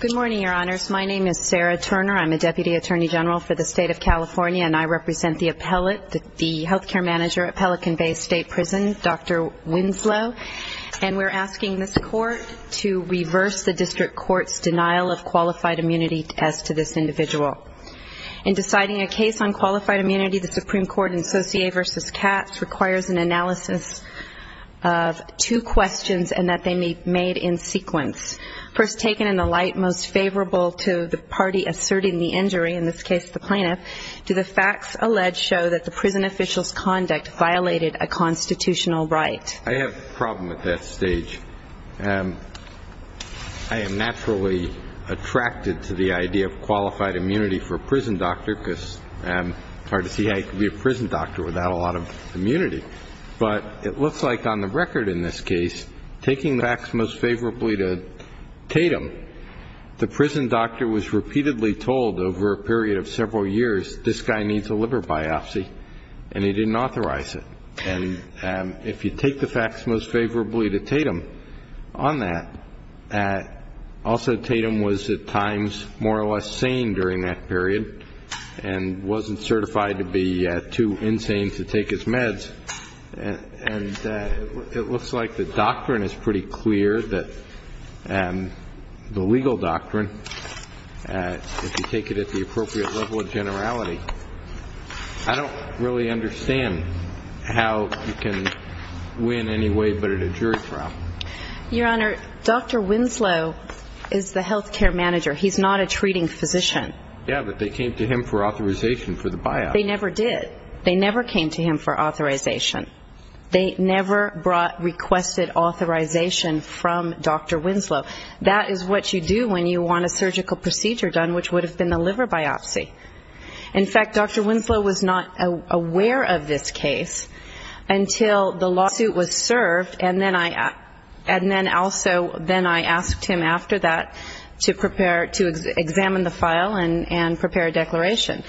Good morning, your honors. My name is Sarah Turner. I'm a deputy attorney general for the state of California, and I represent the appellate, the health care manager at Pelican Bay State Prison, Dr. Winslow, and we're asking this court to reverse the district court's denial of qualified immunity as to this individual. In deciding a case on qualified immunity, the Supreme Court in Saussure v. Katz requires an analysis of two questions and that they may be made in sequence. First, take an example of a person in the light most favorable to the party asserting the injury, in this case, the plaintiff. Do the facts alleged show that the prison official's conduct violated a constitutional right? I have a problem at that stage. I am naturally attracted to the idea of qualified immunity for a prison doctor because it's hard to see how you can be a prison doctor without a lot of immunity. But it looks like on the record in this case, taking the facts most favorably to Tatum, the Supreme Court in Pelican Bay, the prison doctor was repeatedly told over a period of several years, this guy needs a liver biopsy, and he didn't authorize it. And if you take the facts most favorably to Tatum on that, also Tatum was at times more or less sane during that period and wasn't certified to be too insane to take his meds. And it looks like the doctrine is pretty clear that the legal doctrine, if you take it at the appropriate level of generality, I don't really understand how you can win anyway but at a jury trial. Your Honor, Dr. Winslow is the health care manager. He's not a treating physician. Yeah, but they came to him for authorization for the biopsy. They never did. They never came to him for authorization. They never requested authorization from Dr. Winslow. That is what you do when you want a surgical procedure done, which would have been the liver biopsy. In fact, Dr. Winslow was not aware of this case until the lawsuit was served, and then also then I asked him after that to prepare to examine the file and prepare a declaration.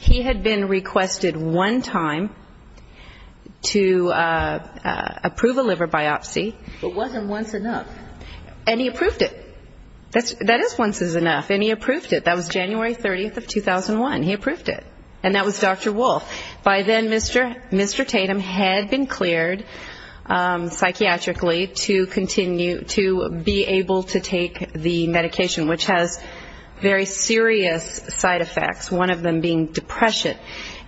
He had been requested one time to approve a liver biopsy. It wasn't once enough. And he approved it. That is once is enough. And he approved it. That was January 30, 2001. He approved it. And that was Dr. Wolf. By then, Mr. Tatum had been cleared psychiatrically to continue to be able to take the medication, which has very serious side effects, one of them being depression.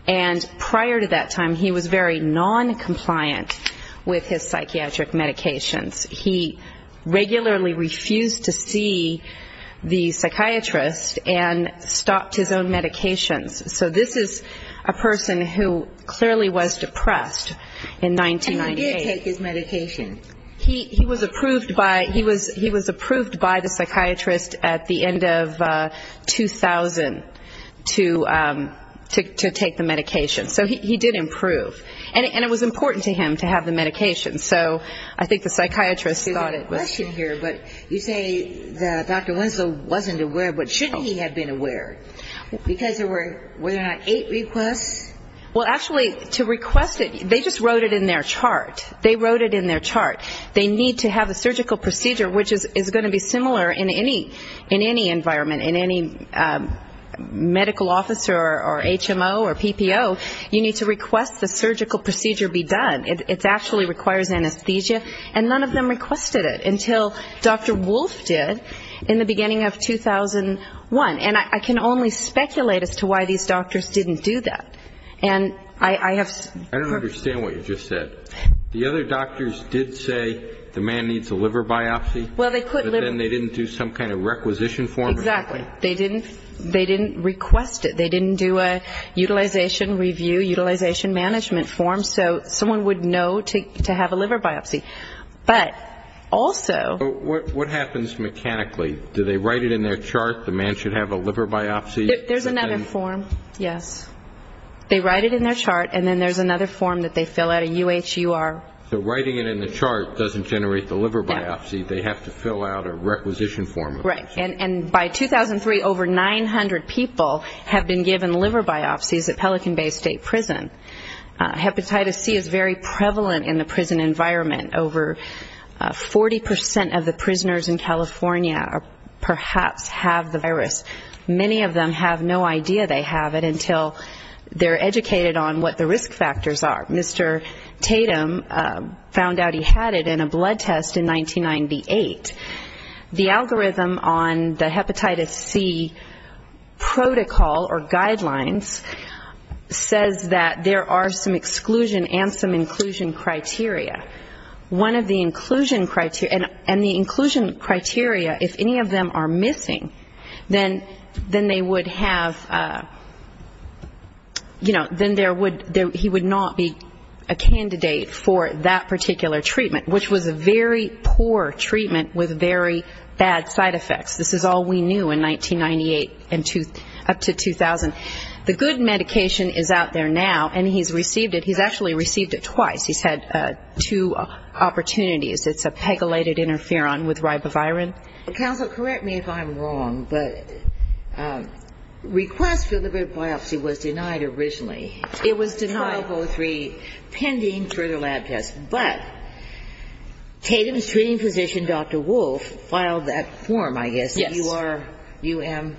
And prior to that time, he was very noncompliant with his psychiatric medications. He regularly refused to see the psychiatrist and stopped his own medications. So this is a person who clearly was depressed in 1998. And he did take his medication. He was approved by the psychiatrist at the end of 2000 to take the medication. So he did improve. And it was important to him to have the medication. So I think the psychiatrist thought it was good. You say Dr. Winslow wasn't aware, but shouldn't he have been aware? Because there were eight requests? Well, actually, to request it, they just wrote it in their chart. They wrote it in their chart. They need to have a surgical procedure, which is going to be similar in any environment, in any medical office or HMO or PPO, you need to request the surgical procedure be done. It actually requires anesthesia. And none of them requested it until Dr. Wolf did in the beginning of 2001. And I can only speculate as to why these doctors didn't do that. I don't understand what you just said. The other doctors did say the man needs a liver biopsy, but then they didn't do some kind of requisition form? Exactly. They didn't request it. They didn't do a utilization review, utilization management form, so someone would know to have a liver biopsy. But also What happens mechanically? Do they write it in their chart, the man should have a liver biopsy? There's another form, yes. They write it in their chart, and then there's another form that they fill out, a UHUR. So writing it in the chart doesn't generate the liver biopsy. They have to fill out a requisition form. Right. And by 2003, over 900 people have been given liver biopsies at Pelican Bay State Prison. Hepatitis C is very prevalent in the prison environment. Over 40% of the prisoners in California perhaps have the virus. Many of them have no idea they have it until they're educated on what the risk factors are. Mr. Tatum found out he had it in a blood test in 1998. The algorithm on the hepatitis C protocol or guidelines says that there are some exclusion and some inclusion criteria. One of the inclusion criteria, and the inclusion criteria, if any of them are missing, then they would have, you know, then there would, he would not be a candidate for that particular treatment, which was a very poor treatment with very bad side effects. This is all we knew in 1998 up to 2000. The good medication is out there now, and he's received it. He's actually received it twice. He's had two opportunities. It's a pegylated interferon with ribavirin. Counsel, correct me if I'm wrong, but request for the liver biopsy was denied originally. It was denied. 1203, pending further lab tests. But Tatum's treating physician, Dr. Wolf, filed that form, I guess. Yes. URUM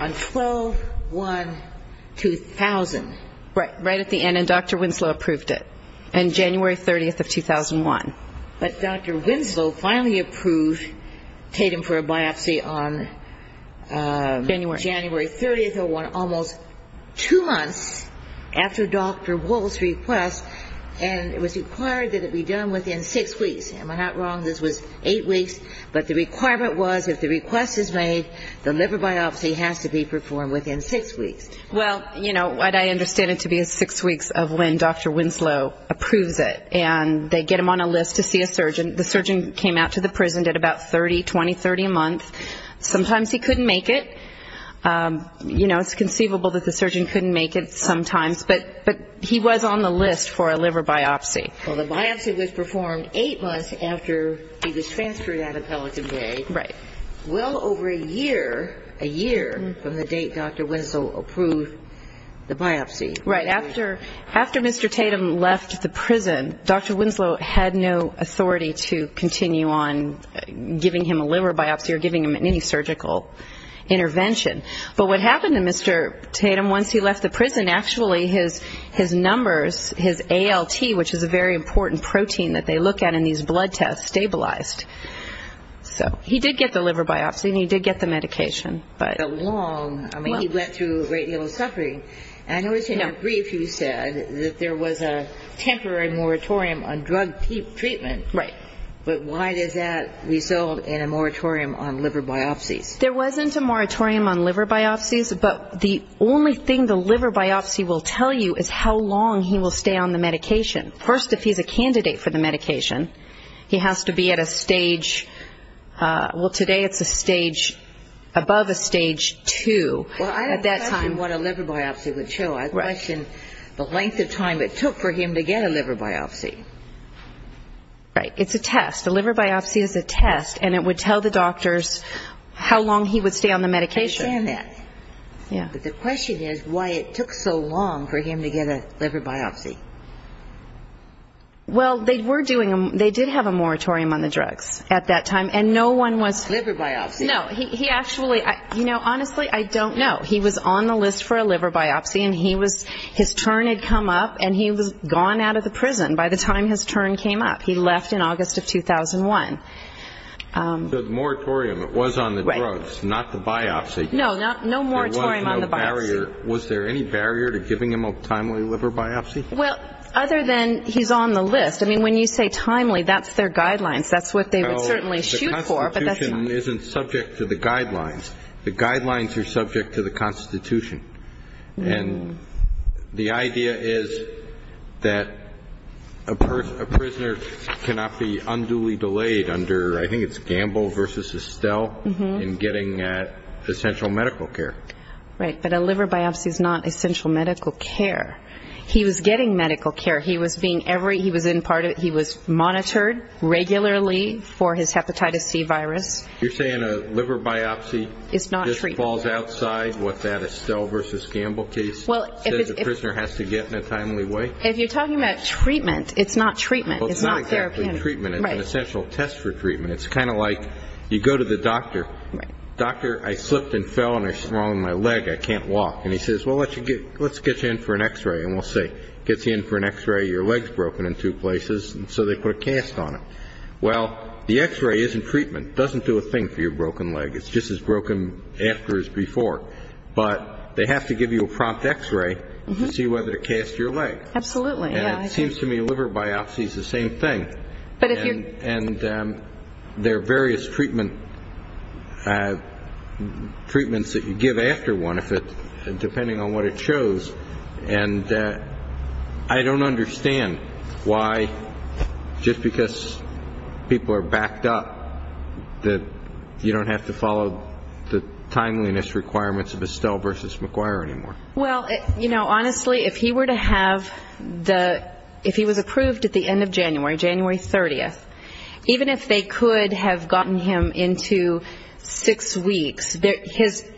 on 12-1-2000. Right at the end, and Dr. Winslow approved it on January 30th of 2001. But Dr. Winslow finally approved Tatum for a biopsy on January 30th of 2001, almost two months after Dr. Wolf's request, and it was required that it be done within six weeks. Am I not wrong? This was eight weeks, but the requirement was if the request was not made, the liver biopsy has to be performed within six weeks. Well, you know, I understand it to be six weeks of when Dr. Winslow approves it, and they get him on a list to see a surgeon. The surgeon came out to the prison at about 30, 20, 30 a month. Sometimes he couldn't make it. You know, it's conceivable that the surgeon couldn't make it sometimes, but he was on the list for a liver biopsy. Well, the biopsy was performed eight months after he was transferred out of Pelican Bay. Well over a year, a year from the date Dr. Winslow approved the biopsy. Right. After Mr. Tatum left the prison, Dr. Winslow had no authority to continue on giving him a liver biopsy or giving him any surgical intervention. But what happened to Mr. Tatum once he left the prison, actually his numbers, his ALT, which is a very large number, he did get the liver biopsy and he did get the medication, but... But how long? I mean, he went through a great deal of suffering. And I noticed in your brief you said that there was a temporary moratorium on drug treatment. Right. But why does that result in a moratorium on liver biopsies? There wasn't a moratorium on liver biopsies, but the only thing the liver biopsy will tell you is how long he will stay on the medication. Well, today it's a stage, above a stage two at that time. Well, I don't question what a liver biopsy would show. I question the length of time it took for him to get a liver biopsy. Right. It's a test. A liver biopsy is a test and it would tell the doctors how long he would stay on the medication. I understand that. But the question is why it took so long for him to get a liver biopsy. Well, they were doing, they did have a moratorium on the drugs at that time and no one was... Liver biopsy. No, he actually, you know, honestly, I don't know. He was on the list for a liver biopsy and he was, his turn had come up and he was gone out of the prison by the time his turn came up. He left in August of 2001. So the moratorium was on the drugs, not the biopsy. No, no moratorium on the biopsy. So was there any barrier to giving him a timely liver biopsy? Well, other than he's on the list. I mean, when you say timely, that's their guidelines. That's what they would certainly shoot for, but that's not... No, the Constitution isn't subject to the guidelines. The guidelines are subject to the Constitution. And the idea is that a prisoner cannot be unduly delayed under, I think it's Gamble v. Estelle in getting essential medical care. Right, but a liver biopsy is not essential medical care. He was getting medical care. He was being every, he was in part of it. He was monitored regularly for his hepatitis C virus. You're saying a liver biopsy just falls outside what that Estelle v. Gamble case says a prisoner has to get in a timely way? If you're talking about treatment, it's not treatment. It's not therapy. It's an essential test for treatment. It's kind of like you go to the doctor. Doctor, I slipped and fell and there's something wrong with my leg. I can't walk. And he says, well, let's get you in for an x-ray. And we'll see. Gets you in for an x-ray. Your leg's broken in two places. And so they put a cast on it. Well, the x-ray isn't treatment. Doesn't do a thing for your broken leg. It's just as broken after as before. But they have to give you a prompt x-ray to see whether to cast your leg. Absolutely. It seems to me liver biopsy is the same thing. And there are various treatments that you give after one, depending on what it shows. And I don't understand why, just because people are backed up, that you don't have to follow the timeliness requirements of Estelle v. McGuire anymore. Well, you know, honestly, if he were to have the, if he was approved at the end of January, January 30th, even if they could have gotten him into six weeks,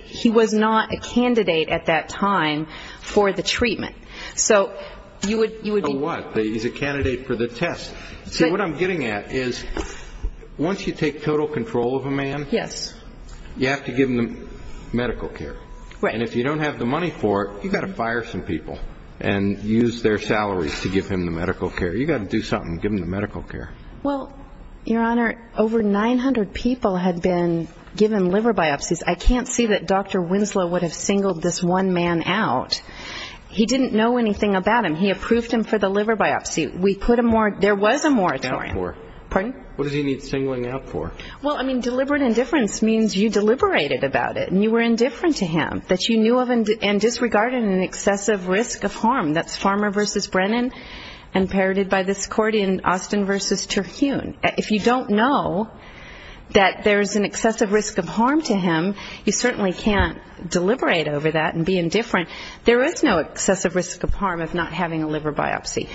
he was not a candidate at that time for the treatment. So you would be. A what? He's a candidate for the test. See, what I'm getting at is once you take total control of a man, you have to give him the medical care. And if you don't have the money for it, you've got to fire some people and use their salaries to give him the medical care. You've got to do something. Give him the medical care. Well, Your Honor, over 900 people had been given liver biopsies. I can't see that Dr. Winslow would have singled this one man out. He didn't know anything about him. He approved him for the liver biopsy. We put a moratorium. There was a moratorium. What does he need singling out for? Well, I mean, deliberate indifference means you deliberated about it and you were indifferent to him, that you knew of and disregarded an excessive risk of harm. That's Farmer v. Brennan and parroted by this court in Austin v. Terhune. If you don't know that there's an excessive risk of harm to him, you certainly can't deliberate over that and be indifferent. There is no excessive risk of harm of not having a liver biopsy.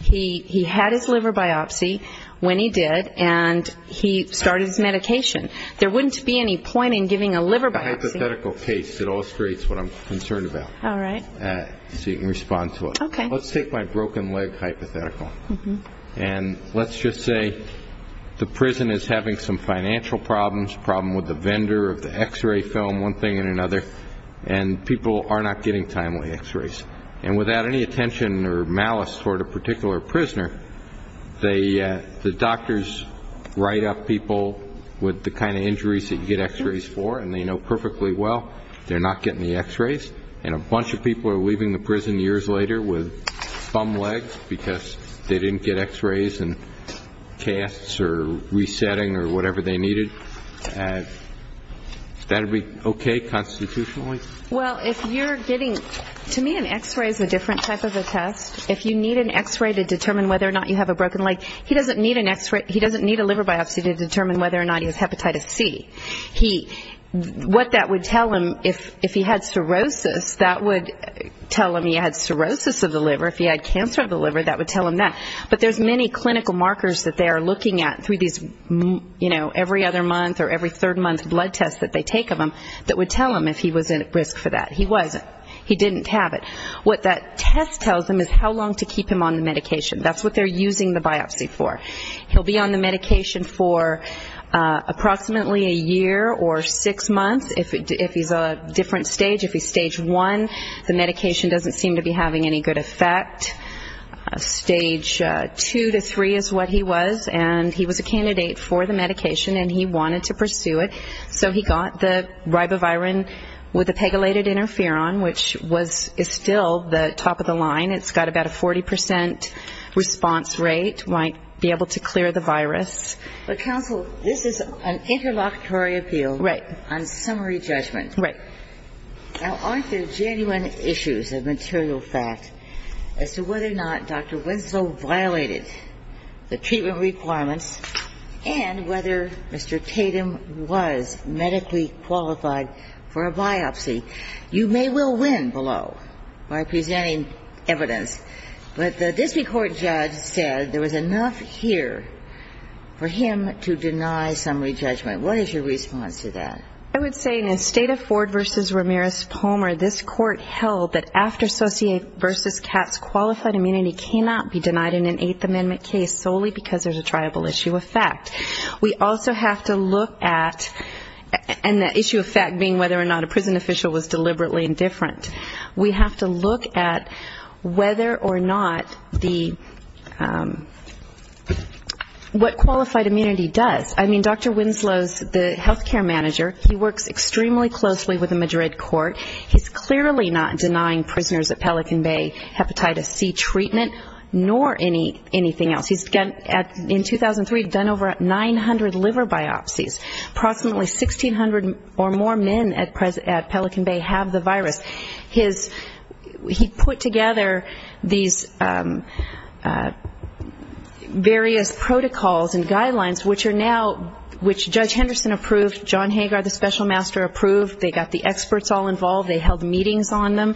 He had his liver biopsy when he did and he started his medication. There wouldn't be any point in giving a liver biopsy. It's a hypothetical case. It illustrates what I'm concerned about so you can respond to it. Let's take my broken leg hypothetical and let's just say the prison is having some financial problems, problem with the vendor of the x-ray film, one thing and another, and people are not getting timely x-rays. And without any attention or malice toward a particular prisoner, the doctors write up people with the kind of injuries that you get x-rays for and they know perfectly well they're not getting the x-rays. And a bunch of people are leaving the prison years later with bum legs because they didn't get x-rays and casts or resetting or whatever they needed. Is that okay constitutionally? Well, if you're getting, to me an x-ray is a different type of a test. If you need an x-ray to determine whether or not you have a broken leg, he doesn't need a liver biopsy to determine whether or not he has hepatitis C. What that would tell him, if he had cirrhosis, that would tell him he had cirrhosis of the liver. If he had cancer of the liver, that would tell him that. But there's many clinical markers that they are looking at through these, you know, every other month or every third month blood tests that they take of him that would tell him if he was at risk for that. He wasn't. He didn't have it. What that test tells him is how long to keep him on the medication. That's what they're using the biopsy for. He'll be on the medication for approximately a year or six months, if he's a different stage. If he's stage one, the medication doesn't seem to be having any good effect. Stage two to three is what he was, and he was a candidate for the medication and he wanted to pursue it. So he got the ribavirin with the pegylated interferon, which is still the top of the line. It's got about a 40 percent response rate, might be able to clear the virus. But, counsel, this is an interlocutory appeal on summary judgment. Now, aren't there genuine issues of material fact as to whether or not Dr. Winslow violated the treatment requirements and whether Mr. Tatum was medically qualified for a biopsy? You may well win below by presenting evidence. But the district court judge said there was enough here for him to deny summary judgment. What is your response to that? I would say in the state of Ford v. Ramirez-Palmer, this court held that after-associate v. Katz, qualified immunity cannot be denied in an Eighth Amendment case solely because there's a triable issue of fact. And the issue of fact being whether or not a prison official was deliberately indifferent. We have to look at whether or not the, what qualified immunity does. I mean, Dr. Winslow's the healthcare manager, he works extremely closely with the Madrid court. He's clearly not denying prisoners at Pelican Bay hepatitis C treatment, nor anything else. He's, in 2003, done over 900 liver biopsies. 1,500 or more men at Pelican Bay have the virus. He put together these various protocols and guidelines, which are now, which Judge Henderson approved, John Hagar, the special master, approved, they got the experts all involved, they held meetings on them.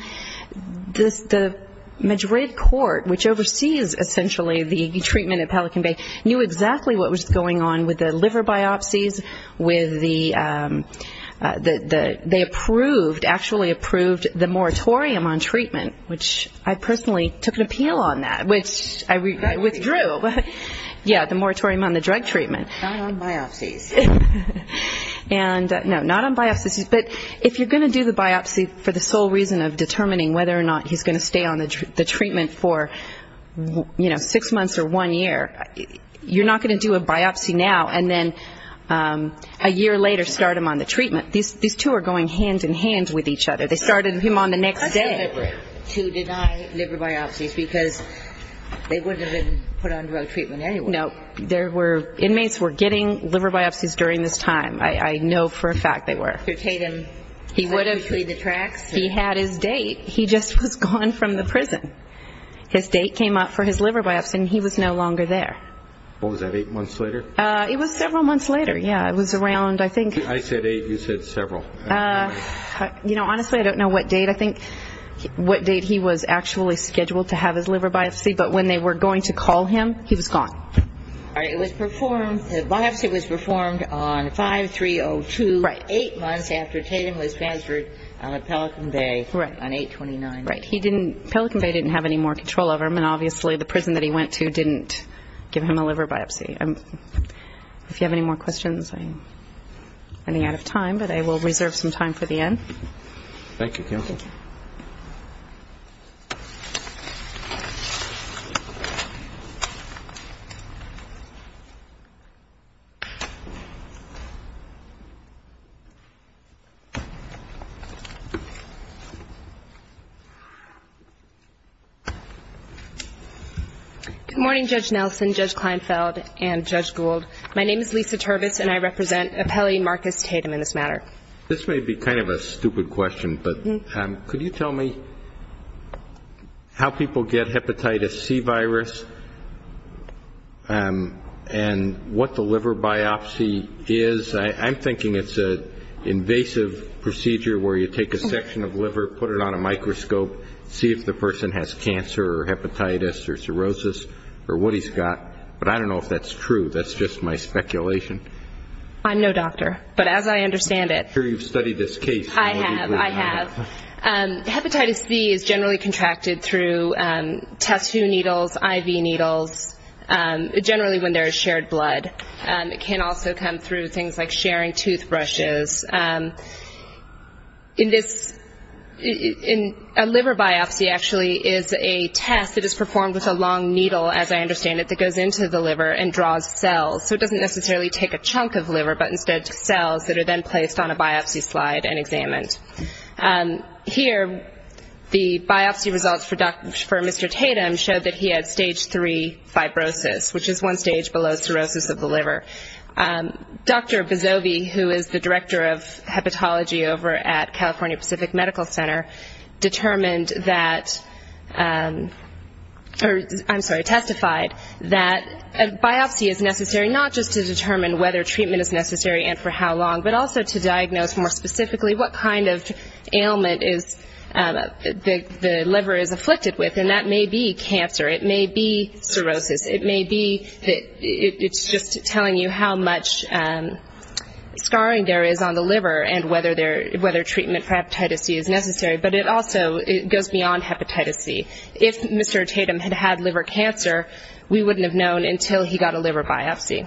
The Madrid court, which oversees essentially the treatment at Pelican Bay, knew exactly what was going on with the liver biopsies, with the, they approved, actually approved the moratorium on treatment, which I personally took an appeal on that, which I withdrew. Yeah, the moratorium on the drug treatment. Not on biopsies. And, no, not on biopsies, but if you're going to do the biopsy for the sole reason of determining whether or not he's going to stay on the treatment for, you know, six months or one year, you're not going to do a biopsy now and then a year later start him on the treatment. These two are going hand in hand with each other. They started him on the next day. And they were able to deny liver biopsies because they wouldn't have been put on drug treatment anyway. No, there were, inmates were getting liver biopsies during this time. I know for a fact they were. He had his date, he just was gone from the prison. His date came up for his liver biopsy and he was no longer there. What was that, eight months later? It was several months later, yeah, it was around, I think. I said eight, you said several. You know, honestly, I don't know what date he was actually scheduled to have his liver biopsy, but when they were going to call him, he was gone. All right, it was performed, the biopsy was performed on 5-3-0-2, eight months after Tatum was transferred out of Pelican Bay on 8-29. Right, Pelican Bay didn't have any more control over him, and obviously the prison that he went to didn't give him a liver biopsy. If you have any more questions, I'm running out of time, but I will reserve some time for the end. Thank you, counsel. Good morning, Judge Nelson, Judge Kleinfeld, and Judge Gould. My name is Lisa Turbis and I represent Appellee Marcus Tatum in this matter. This may be kind of a stupid question, but could you tell me how people get hepatitis C virus and what the liver biopsy is? I'm thinking it's an invasive procedure where you take a section of liver, put it on a microscope, see if the person has cancer or hepatitis or cirrhosis or what he's got. But I don't know if that's true. That's just my speculation. I'm no doctor, but as I understand it. I'm sure you've studied this case. I have, I have. Hepatitis C is generally contracted through tattoo needles, IV needles, generally when there is shared blood. It can also come through things like sharing toothbrushes. In this, a liver biopsy actually is a test that is performed with a long needle, as I understand it, that goes into the liver and draws cells. So it doesn't necessarily take a chunk of liver, but instead cells that are then placed on a biopsy slide and examined. Here, the biopsy results for Mr. Tatum showed that he had stage three fibrosis, which is one stage below cirrhosis of the liver. Dr. Bozovi, who is the director of hepatology over at California Pacific Medical Center, determined that, I'm sorry, testified that a biopsy is necessary not just to determine whether treatment is necessary and for how long, but also to diagnose more specifically what kind of ailment the liver is afflicted with. And that may be cancer. It may be cirrhosis. It may be, it's just telling you how much scarring there is on the liver and whether treatment for hepatitis C is necessary. But it also goes beyond hepatitis C. If Mr. Tatum had had liver cancer, we wouldn't have known until he got a liver biopsy.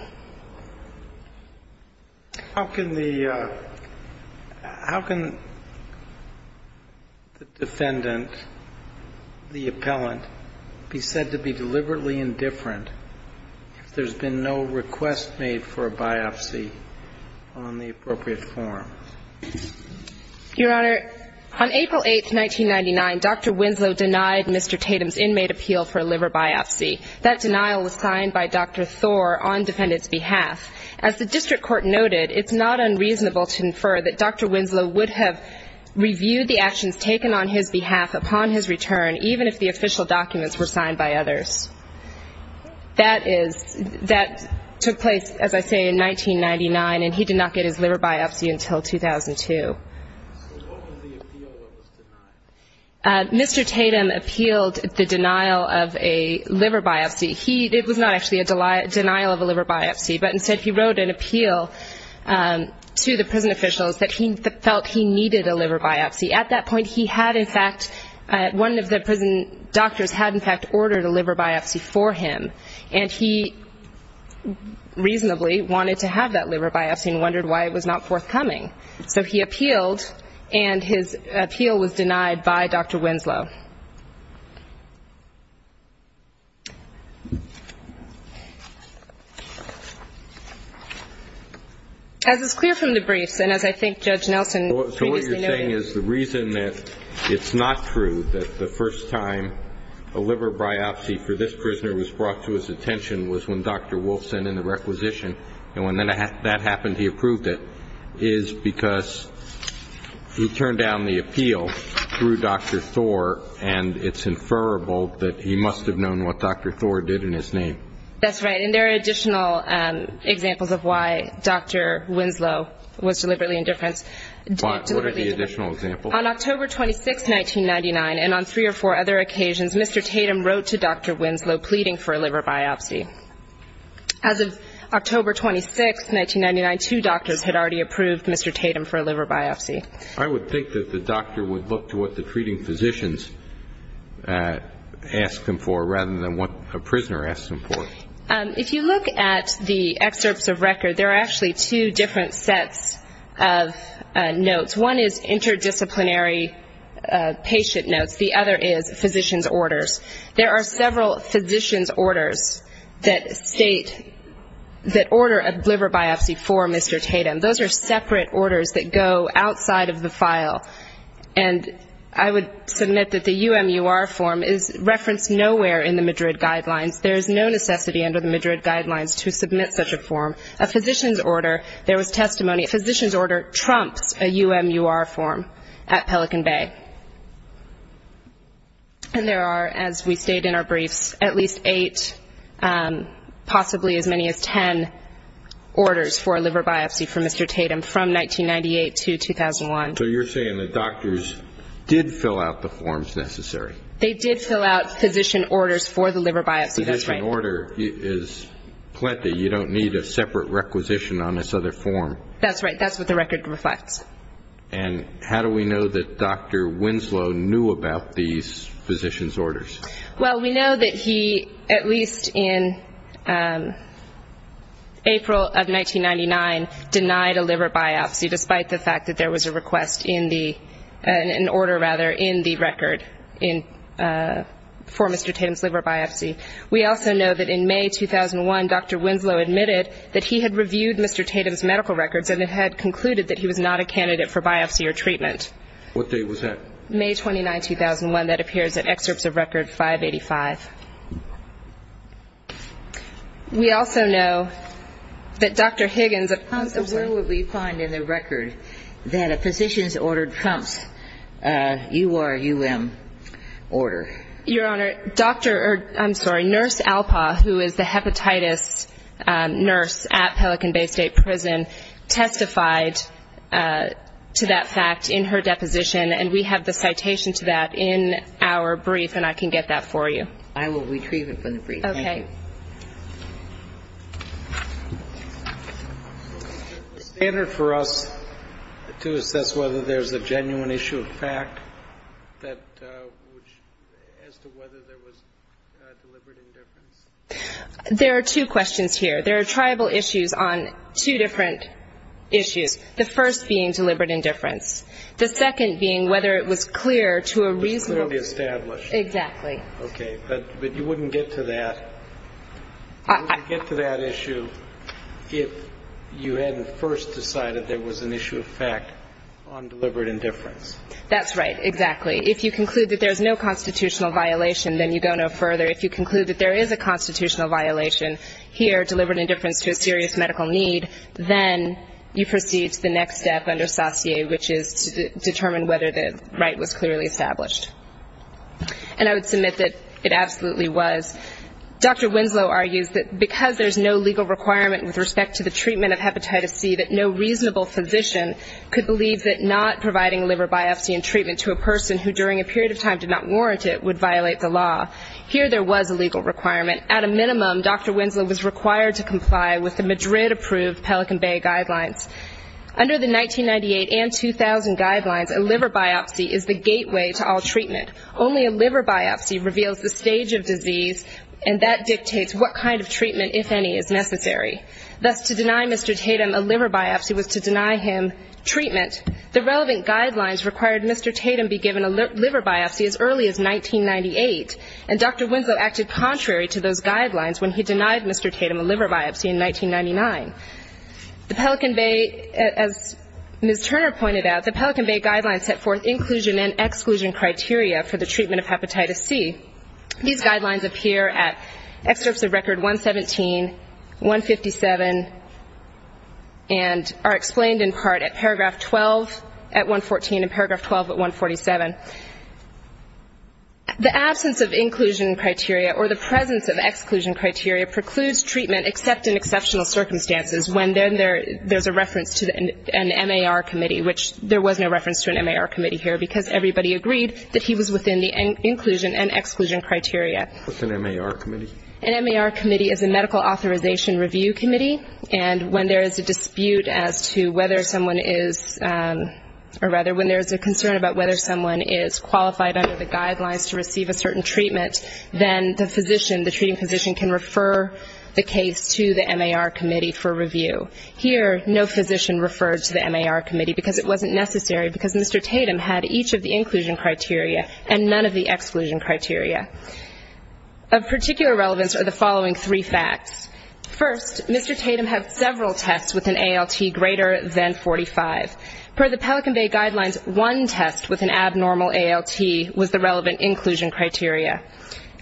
How can the defendant, the appellant, be said to be deliberately indifferent if there's been no request made for a biopsy on the appropriate form? Your Honor, on April 8, 1999, Dr. Winslow denied Mr. Tatum's inmate appeal for a liver biopsy. That denial was signed by Dr. Thor on defendant's behalf. As the district court noted, it's not unreasonable to infer that Dr. Winslow would have reviewed the actions taken on his behalf upon his return, even if the official documents were signed by others. That took place, as I say, in 1999, and he did not get his liver biopsy until 2002. So what was the appeal that was denied? Mr. Tatum appealed the denial of a liver biopsy. It was not actually a denial of a liver biopsy, but instead he wrote an appeal to the prison officials that he felt he needed a liver biopsy. At that point, he had, in fact, one of the prison doctors had, in fact, ordered a liver biopsy for him, and he reasonably wanted to have that liver biopsy and wondered why it was not forthcoming. So he appealed, and his appeal was denied by Dr. Winslow. As is clear from the briefs, and as I think Judge Nelson previously noted. So what you're saying is the reason that it's not true that the first time a liver biopsy for this prisoner was brought to his attention was when Dr. Wolf sent in the requisition, and when that happened, he approved it, is because he turned down the appeal through Dr. Thor, and it's inferrable that he must have known what Dr. Thor did in his name. That's right, and there are additional examples of why Dr. Winslow was deliberately indifferent. What are the additional examples? On October 26, 1999, and on three or four other occasions, Mr. Tatum wrote to Dr. Winslow pleading for a liver biopsy. As of October 26, 1999, two doctors had already approved Mr. Tatum for a liver biopsy. I would think that the doctor would look to what the treating physicians asked him for rather than what a prisoner asked him for. If you look at the excerpts of record, there are actually two different sets of notes. One is interdisciplinary patient notes. The other is physician's orders. There are several physician's orders that state, that order a liver biopsy for Mr. Tatum. Those are separate orders that go outside of the file, and I would submit that the UMUR form is referenced nowhere in the Madrid Guidelines. There is no necessity under the Madrid Guidelines to submit such a form. A physician's order, there was testimony, a physician's order trumps a UMUR form at Pelican Bay. And there are, as we state in our briefs, at least eight, possibly as many as 10 orders for a liver biopsy for Mr. Tatum from 1998 to 2001. So you're saying that doctors did fill out the forms necessary? They did fill out physician orders for the liver biopsy, that's right. A physician order is plenty. You don't need a separate requisition on this other form. That's right. That's what the record reflects. And how do we know that Dr. Winslow knew about these physician's orders? Well, we know that he, at least in April of 1999, denied a liver biopsy, despite the fact that there was a request in the order, rather, in the record for Mr. Tatum's liver biopsy. We also know that in May 2001, Dr. Winslow admitted that he had reviewed Mr. Tatum's medical records and had concluded that he was not a candidate for biopsy or treatment. What date was that? May 29, 2001. That appears in excerpts of Record 585. We also know that Dr. Higgins, a possibly ‑‑ Where would we find in the record that a physician's order trumps a URUM order? Your Honor, Dr. ‑‑ I'm sorry, Nurse Alpaw, who is the hepatitis nurse at Pelican Bay State Prison, testified to that fact in her deposition, and we have the citation to that in our brief, and I can get that for you. I will retrieve it from the brief. Thank you. Okay. Is there a standard for us to assess whether there's a genuine issue of fact as to whether there was deliberate indifference? There are two questions here. There are tribal issues on two different issues, the first being deliberate indifference, the second being whether it was clear to a reasonable ‑‑ It was clearly established. Exactly. Okay. But you wouldn't get to that. You wouldn't get to that issue if you hadn't first decided there was an issue of fact on deliberate indifference. That's right, exactly. If you conclude that there's no constitutional violation, then you go no further. If you conclude that there is a constitutional violation here, deliberate indifference to a serious medical need, then you proceed to the next step under satie, which is to determine whether the right was clearly established. And I would submit that it absolutely was. Dr. Winslow argues that because there's no legal requirement with respect to the treatment of hepatitis C, that no reasonable physician could believe that not providing a liver biopsy and treatment to a person who during a period of time did not warrant it would violate the law. Here there was a legal requirement. At a minimum, Dr. Winslow was required to comply with the Madrid‑approved Pelican Bay guidelines. Under the 1998 and 2000 guidelines, a liver biopsy is the gateway to all treatment. Only a liver biopsy reveals the stage of disease, and that dictates what kind of treatment, if any, is necessary. Thus, to deny Mr. Tatum a liver biopsy was to deny him treatment. The relevant guidelines required Mr. Tatum be given a liver biopsy as early as 1998, and Dr. Winslow acted contrary to those guidelines when he denied Mr. Tatum a liver biopsy in 1999. The Pelican Bay, as Ms. Turner pointed out, the Pelican Bay guidelines set forth inclusion and exclusion criteria for the treatment of hepatitis C. These guidelines appear at excerpts of record 117, 157, and are explained in part at paragraph 12 at 114 and paragraph 12 at 147. The absence of inclusion criteria or the presence of exclusion criteria precludes treatment except in exceptional circumstances, when then there's a reference to an MAR committee, which there was no reference to an MAR committee here, because everybody agreed that he was within the inclusion and exclusion criteria. What's an MAR committee? An MAR committee is a medical authorization review committee, and when there is a dispute as to whether someone is or rather when there is a concern about whether someone is qualified under the guidelines to receive a certain treatment, then the physician, the treating physician, can refer the case to the MAR committee for review. Here, no physician referred to the MAR committee because it wasn't necessary, because Mr. Tatum had each of the inclusion criteria and none of the exclusion criteria. Of particular relevance are the following three facts. First, Mr. Tatum had several tests with an ALT greater than 45. Per the Pelican Bay guidelines, one test with an abnormal ALT was the relevant inclusion criteria.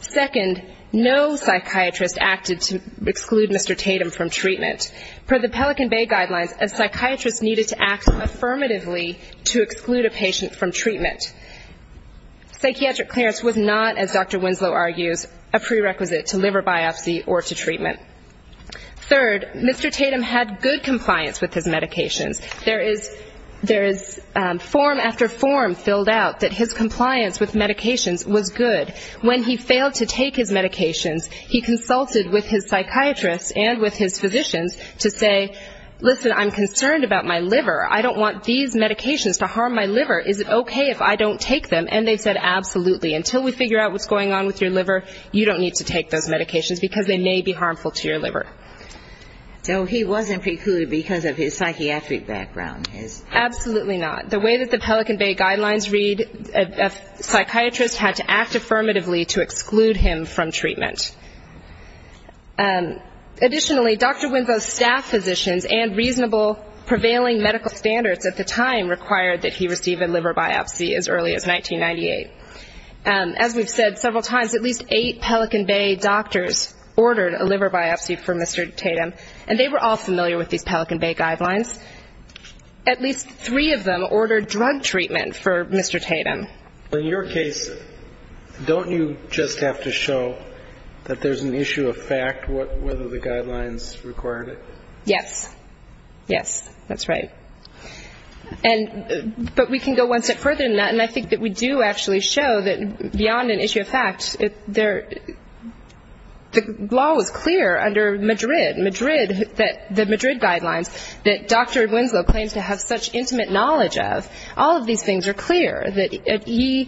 Second, no psychiatrist acted to exclude Mr. Tatum from treatment. Per the Pelican Bay guidelines, a psychiatrist needed to act affirmatively to exclude a patient from treatment. Psychiatric clearance was not, as Dr. Winslow argues, a prerequisite to liver biopsy or to treatment. Third, Mr. Tatum had good compliance with his medications. There is form after form filled out that his compliance with medications was good. When he failed to take his medications, he consulted with his psychiatrist and with his physicians to say, listen, I'm concerned about my liver. I don't want these medications to harm my liver. Is it okay if I don't take them? And they said, absolutely, until we figure out what's going on with your liver, you don't need to take those medications because they may be harmful to your liver. So he wasn't precluded because of his psychiatric background. Absolutely not. The way that the Pelican Bay guidelines read, a psychiatrist had to act affirmatively to exclude him from treatment. Additionally, Dr. Winslow's staff physicians and reasonable prevailing medical standards at the time required that he receive a liver biopsy as early as 1998. As we've said several times, at least eight Pelican Bay doctors ordered a liver biopsy for Mr. Tatum, and they were all familiar with these Pelican Bay guidelines. At least three of them ordered drug treatment for Mr. Tatum. In your case, don't you just have to show that there's an issue of fact whether the guidelines required it? Yes. Yes, that's right. But we can go one step further than that, and I think that we do actually show that beyond an issue of fact, the law was clear under Madrid, the Madrid guidelines, that Dr. Winslow claims to have such intimate knowledge of. All of these things are clear. You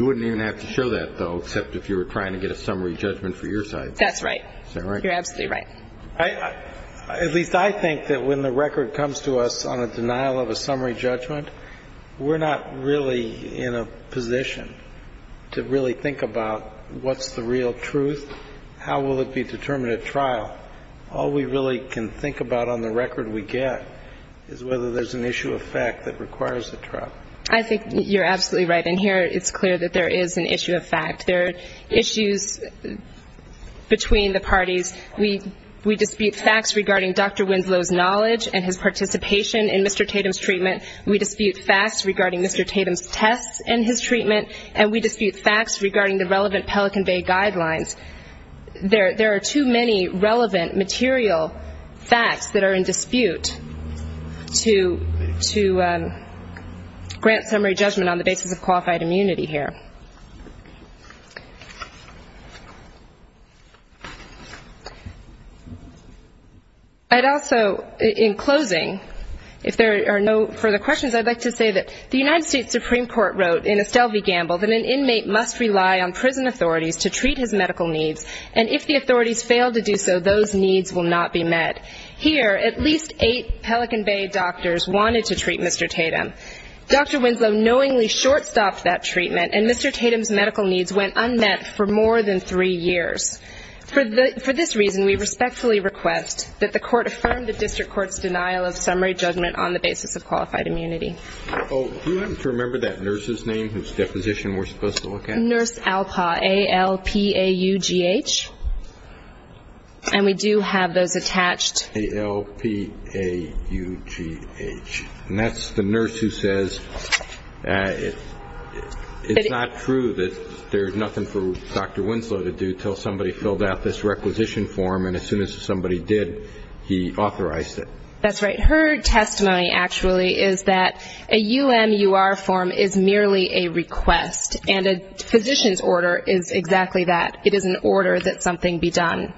wouldn't even have to show that, though, except if you were trying to get a summary judgment for your side. That's right. Is that right? You're absolutely right. At least I think that when the record comes to us on a denial of a summary judgment, we're not really in a position to really think about what's the real truth, how will it be determined at trial. All we really can think about on the record we get is whether there's an issue of fact that requires a trial. I think you're absolutely right, and here it's clear that there is an issue of fact. There are issues between the parties. We dispute facts regarding Dr. Winslow's knowledge and his participation in Mr. Tatum's treatment. We dispute facts regarding Mr. Tatum's tests and his treatment, and we dispute facts regarding the relevant Pelican Bay guidelines. There are too many relevant material facts that are in dispute to grant summary judgment on the basis of qualified immunity here. I'd also, in closing, if there are no further questions, I'd like to say that the United States Supreme Court wrote in Estelle v. Gamble that an inmate must rely on prison authorities to treat his medical needs, and if the authorities fail to do so, those needs will not be met. Here, at least eight Pelican Bay doctors wanted to treat Mr. Tatum. Dr. Winslow knowingly shortstopped that treatment, and Mr. Tatum's medical needs went unmet for more than three years. For this reason, we respectfully request that the court affirm the district court's denial of summary judgment on the basis of qualified immunity. Do you happen to remember that nurse's name whose deposition we're supposed to look at? Nurse Alpaugh, A-L-P-A-U-G-H, and we do have those attached. A-L-P-A-U-G-H. And that's the nurse who says it's not true that there's nothing for Dr. Winslow to do until somebody filled out this requisition form, and as soon as somebody did, he authorized it. That's right. Her testimony actually is that a UMUR form is merely a request, and a physician's order is exactly that. It is an order that something be done.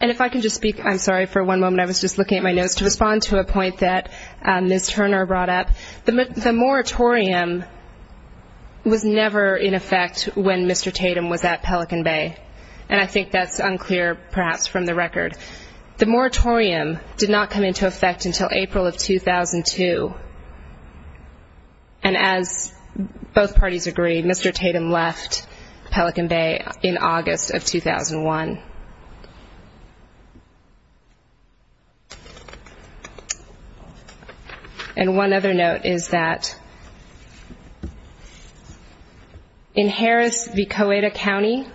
And if I can just speak, I'm sorry, for one moment. I was just looking at my notes to respond to a point that Ms. Turner brought up. The moratorium was never in effect when Mr. Tatum was at Pelican Bay, and I think that's unclear perhaps from the record. The moratorium did not come into effect until April of 2002, and as both parties agree, Mr. Tatum left Pelican Bay in August of 2001. And one other note is that in Harris v. Coeda County,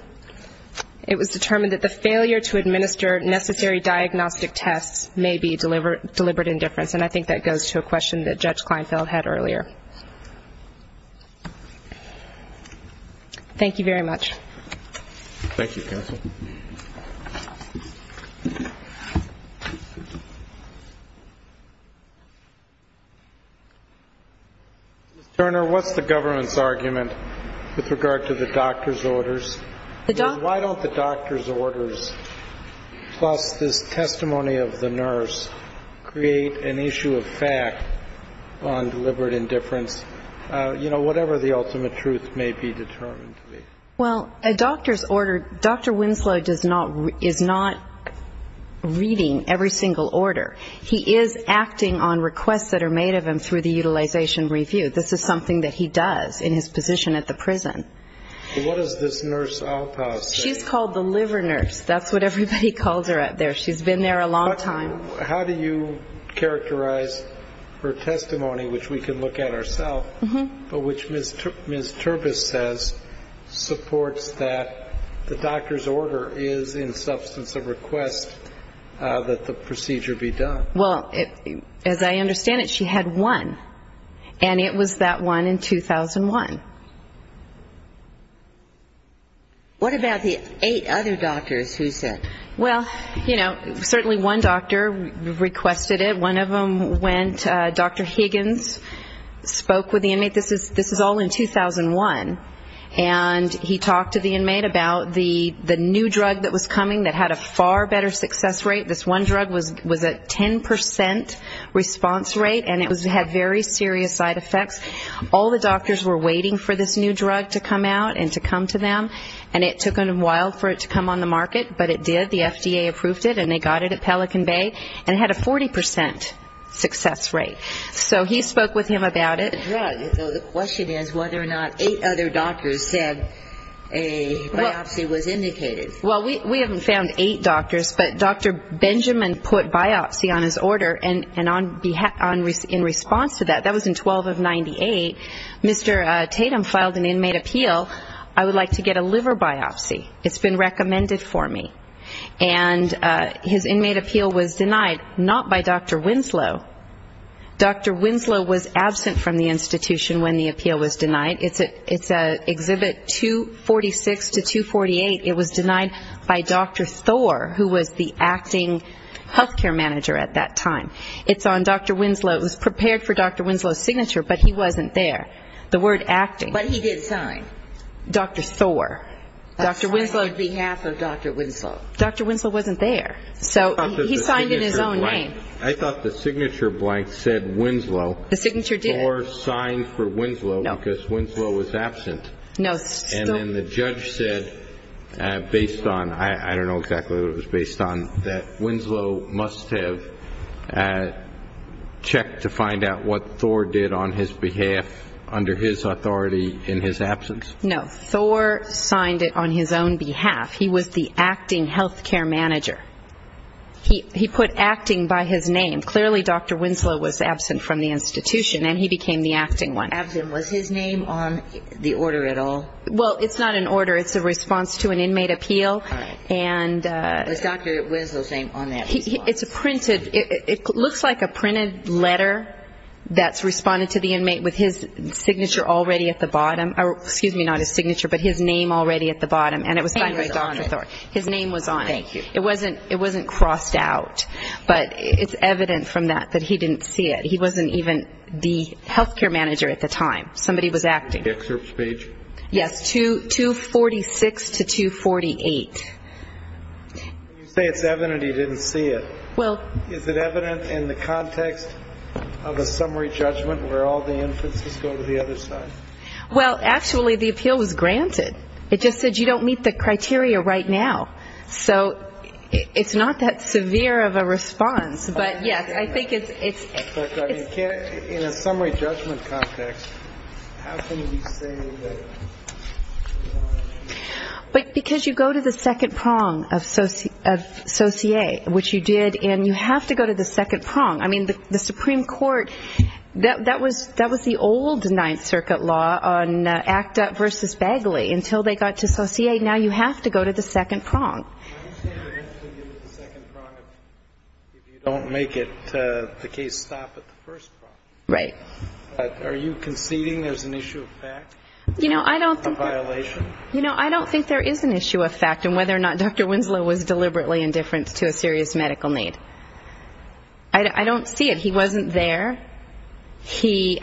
it was determined that the failure to administer necessary diagnostic tests may be deliberate indifference, and I think that goes to a question that Judge Kleinfeld had earlier. Thank you very much. Thank you, counsel. Ms. Turner, what's the government's argument with regard to the doctor's orders? Why don't the doctor's orders plus this testimony of the nurse create an issue of fact on deliberate indifference, you know, whatever the ultimate truth may be determined to be? Well, a doctor's order, Dr. Winslow is not reading every single order. He is acting on requests that are made of him through the utilization review. This is something that he does in his position at the prison. What does this nurse say? She's called the liver nurse. That's what everybody calls her out there. She's been there a long time. How do you characterize her testimony, which we can look at ourselves, but which Ms. Turbis says supports that the doctor's order is in substance of request that the procedure be done? Well, as I understand it, she had one, and it was that one in 2001. What about the eight other doctors who said? Well, you know, certainly one doctor requested it. One of them went, Dr. Higgins spoke with the inmate. This is all in 2001. And he talked to the inmate about the new drug that was coming that had a far better success rate. This one drug was a 10 percent response rate, and it had very serious side effects. All the doctors were waiting for this new drug to come out and to come to them, and it took a while for it to come on the market, but it did. The FDA approved it, and they got it at Pelican Bay, and it had a 40 percent success rate. So he spoke with him about it. The question is whether or not eight other doctors said a biopsy was indicated. Well, we haven't found eight doctors, but Dr. Benjamin put biopsy on his order, and in response to that, that was in 12 of 98, Mr. Tatum filed an inmate appeal. I would like to get a liver biopsy. It's been recommended for me. And his inmate appeal was denied not by Dr. Winslow. Dr. Winslow was absent from the institution when the appeal was denied. It's Exhibit 246 to 248. It was denied by Dr. Thor, who was the acting health care manager at that time. It's on Dr. Winslow. It was prepared for Dr. Winslow's signature, but he wasn't there. The word acting. But he did sign. Dr. Thor. Dr. Winslow. Signed on behalf of Dr. Winslow. Dr. Winslow wasn't there, so he signed in his own name. I thought the signature blank said Winslow. The signature did. Thor signed for Winslow because Winslow was absent. No. And then the judge said based on, I don't know exactly what it was based on, that Winslow must have checked to find out what Thor did on his behalf under his authority in his absence. No. Thor signed it on his own behalf. He was the acting health care manager. He put acting by his name. Clearly Dr. Winslow was absent from the institution, and he became the acting one. Absent. Was his name on the order at all? Well, it's not an order. It's a response to an inmate appeal. All right. Was Dr. Winslow's name on that response? It's printed. It looks like a printed letter that's responded to the inmate with his signature already at the bottom. Excuse me, not his signature, but his name already at the bottom. And it was signed by Dr. Thor. His name was on it. Thank you. It wasn't crossed out, but it's evident from that that he didn't see it. He wasn't even the health care manager at the time. Somebody was acting. The excerpt speech? Yes. 246 to 248. You say it's evident he didn't see it. Well. Is it evident in the context of a summary judgment where all the inferences go to the other side? Well, actually, the appeal was granted. It just said you don't meet the criteria right now. So it's not that severe of a response. But, yes, I think it's ‑‑ In a summary judgment context, how can you say that? Because you go to the second prong of socie, which you did, and you have to go to the second prong. I mean, the Supreme Court, that was the old Ninth Circuit law on ACT UP versus Bagley. Until they got to socie, now you have to go to the second prong. Why do you say you have to go to the second prong if you don't make the case stop at the first prong? Right. Are you conceding there's an issue of fact? You know, I don't think there is an issue of fact in whether or not Dr. Winslow was deliberately indifferent to a serious medical need. I don't see it. He wasn't there. He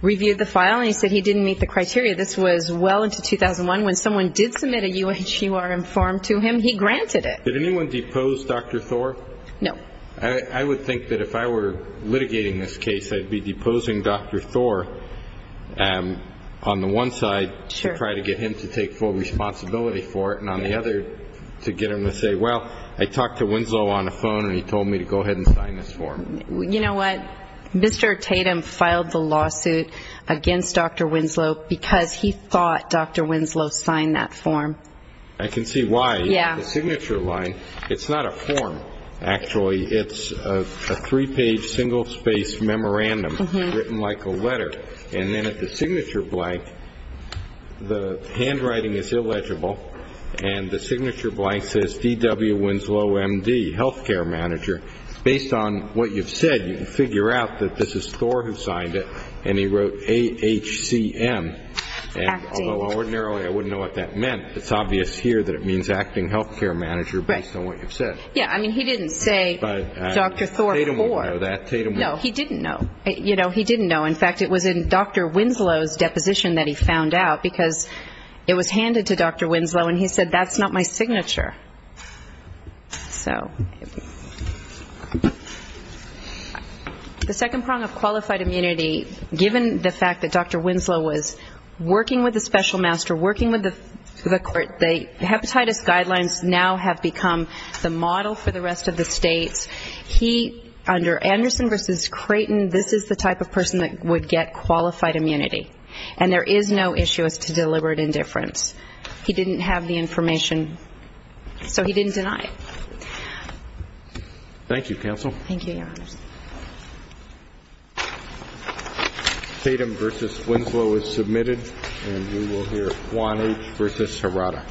reviewed the file, and he said he didn't meet the criteria. This was well into 2001. When someone did submit a UHQR form to him, he granted it. Did anyone depose Dr. Thor? No. I would think that if I were litigating this case, I'd be deposing Dr. Thor on the one side, to try to get him to take full responsibility for it, to get him to say, well, I talked to Winslow on the phone, and he told me to go ahead and sign this form. You know what? Mr. Tatum filed the lawsuit against Dr. Winslow because he thought Dr. Winslow signed that form. I can see why. Yeah. The signature line, it's not a form, actually. It's a three-page, single-spaced memorandum written like a letter. And then at the signature blank, the handwriting is illegible, and the signature blank says DW Winslow, MD, health care manager. Based on what you've said, you can figure out that this is Thor who signed it, and he wrote A-H-C-M. Although ordinarily I wouldn't know what that meant, it's obvious here that it means acting health care manager based on what you've said. Yeah. I mean, he didn't say Dr. Thor Thor. Tatum would know that. No, he didn't know. You know, he didn't know. In fact, it was in Dr. Winslow's deposition that he found out, because it was handed to Dr. Winslow, and he said that's not my signature. So the second prong of qualified immunity, given the fact that Dr. Winslow was working with the special master, working with the court, the hepatitis guidelines now have become the model for the rest of the states. He, under Anderson v. Creighton, this is the type of person that would get qualified immunity, and there is no issue as to deliberate indifference. He didn't have the information, so he didn't deny it. Thank you, counsel. Thank you, Your Honor. Tatum v. Winslow is submitted, and we will hear Juan H. v. Serrata.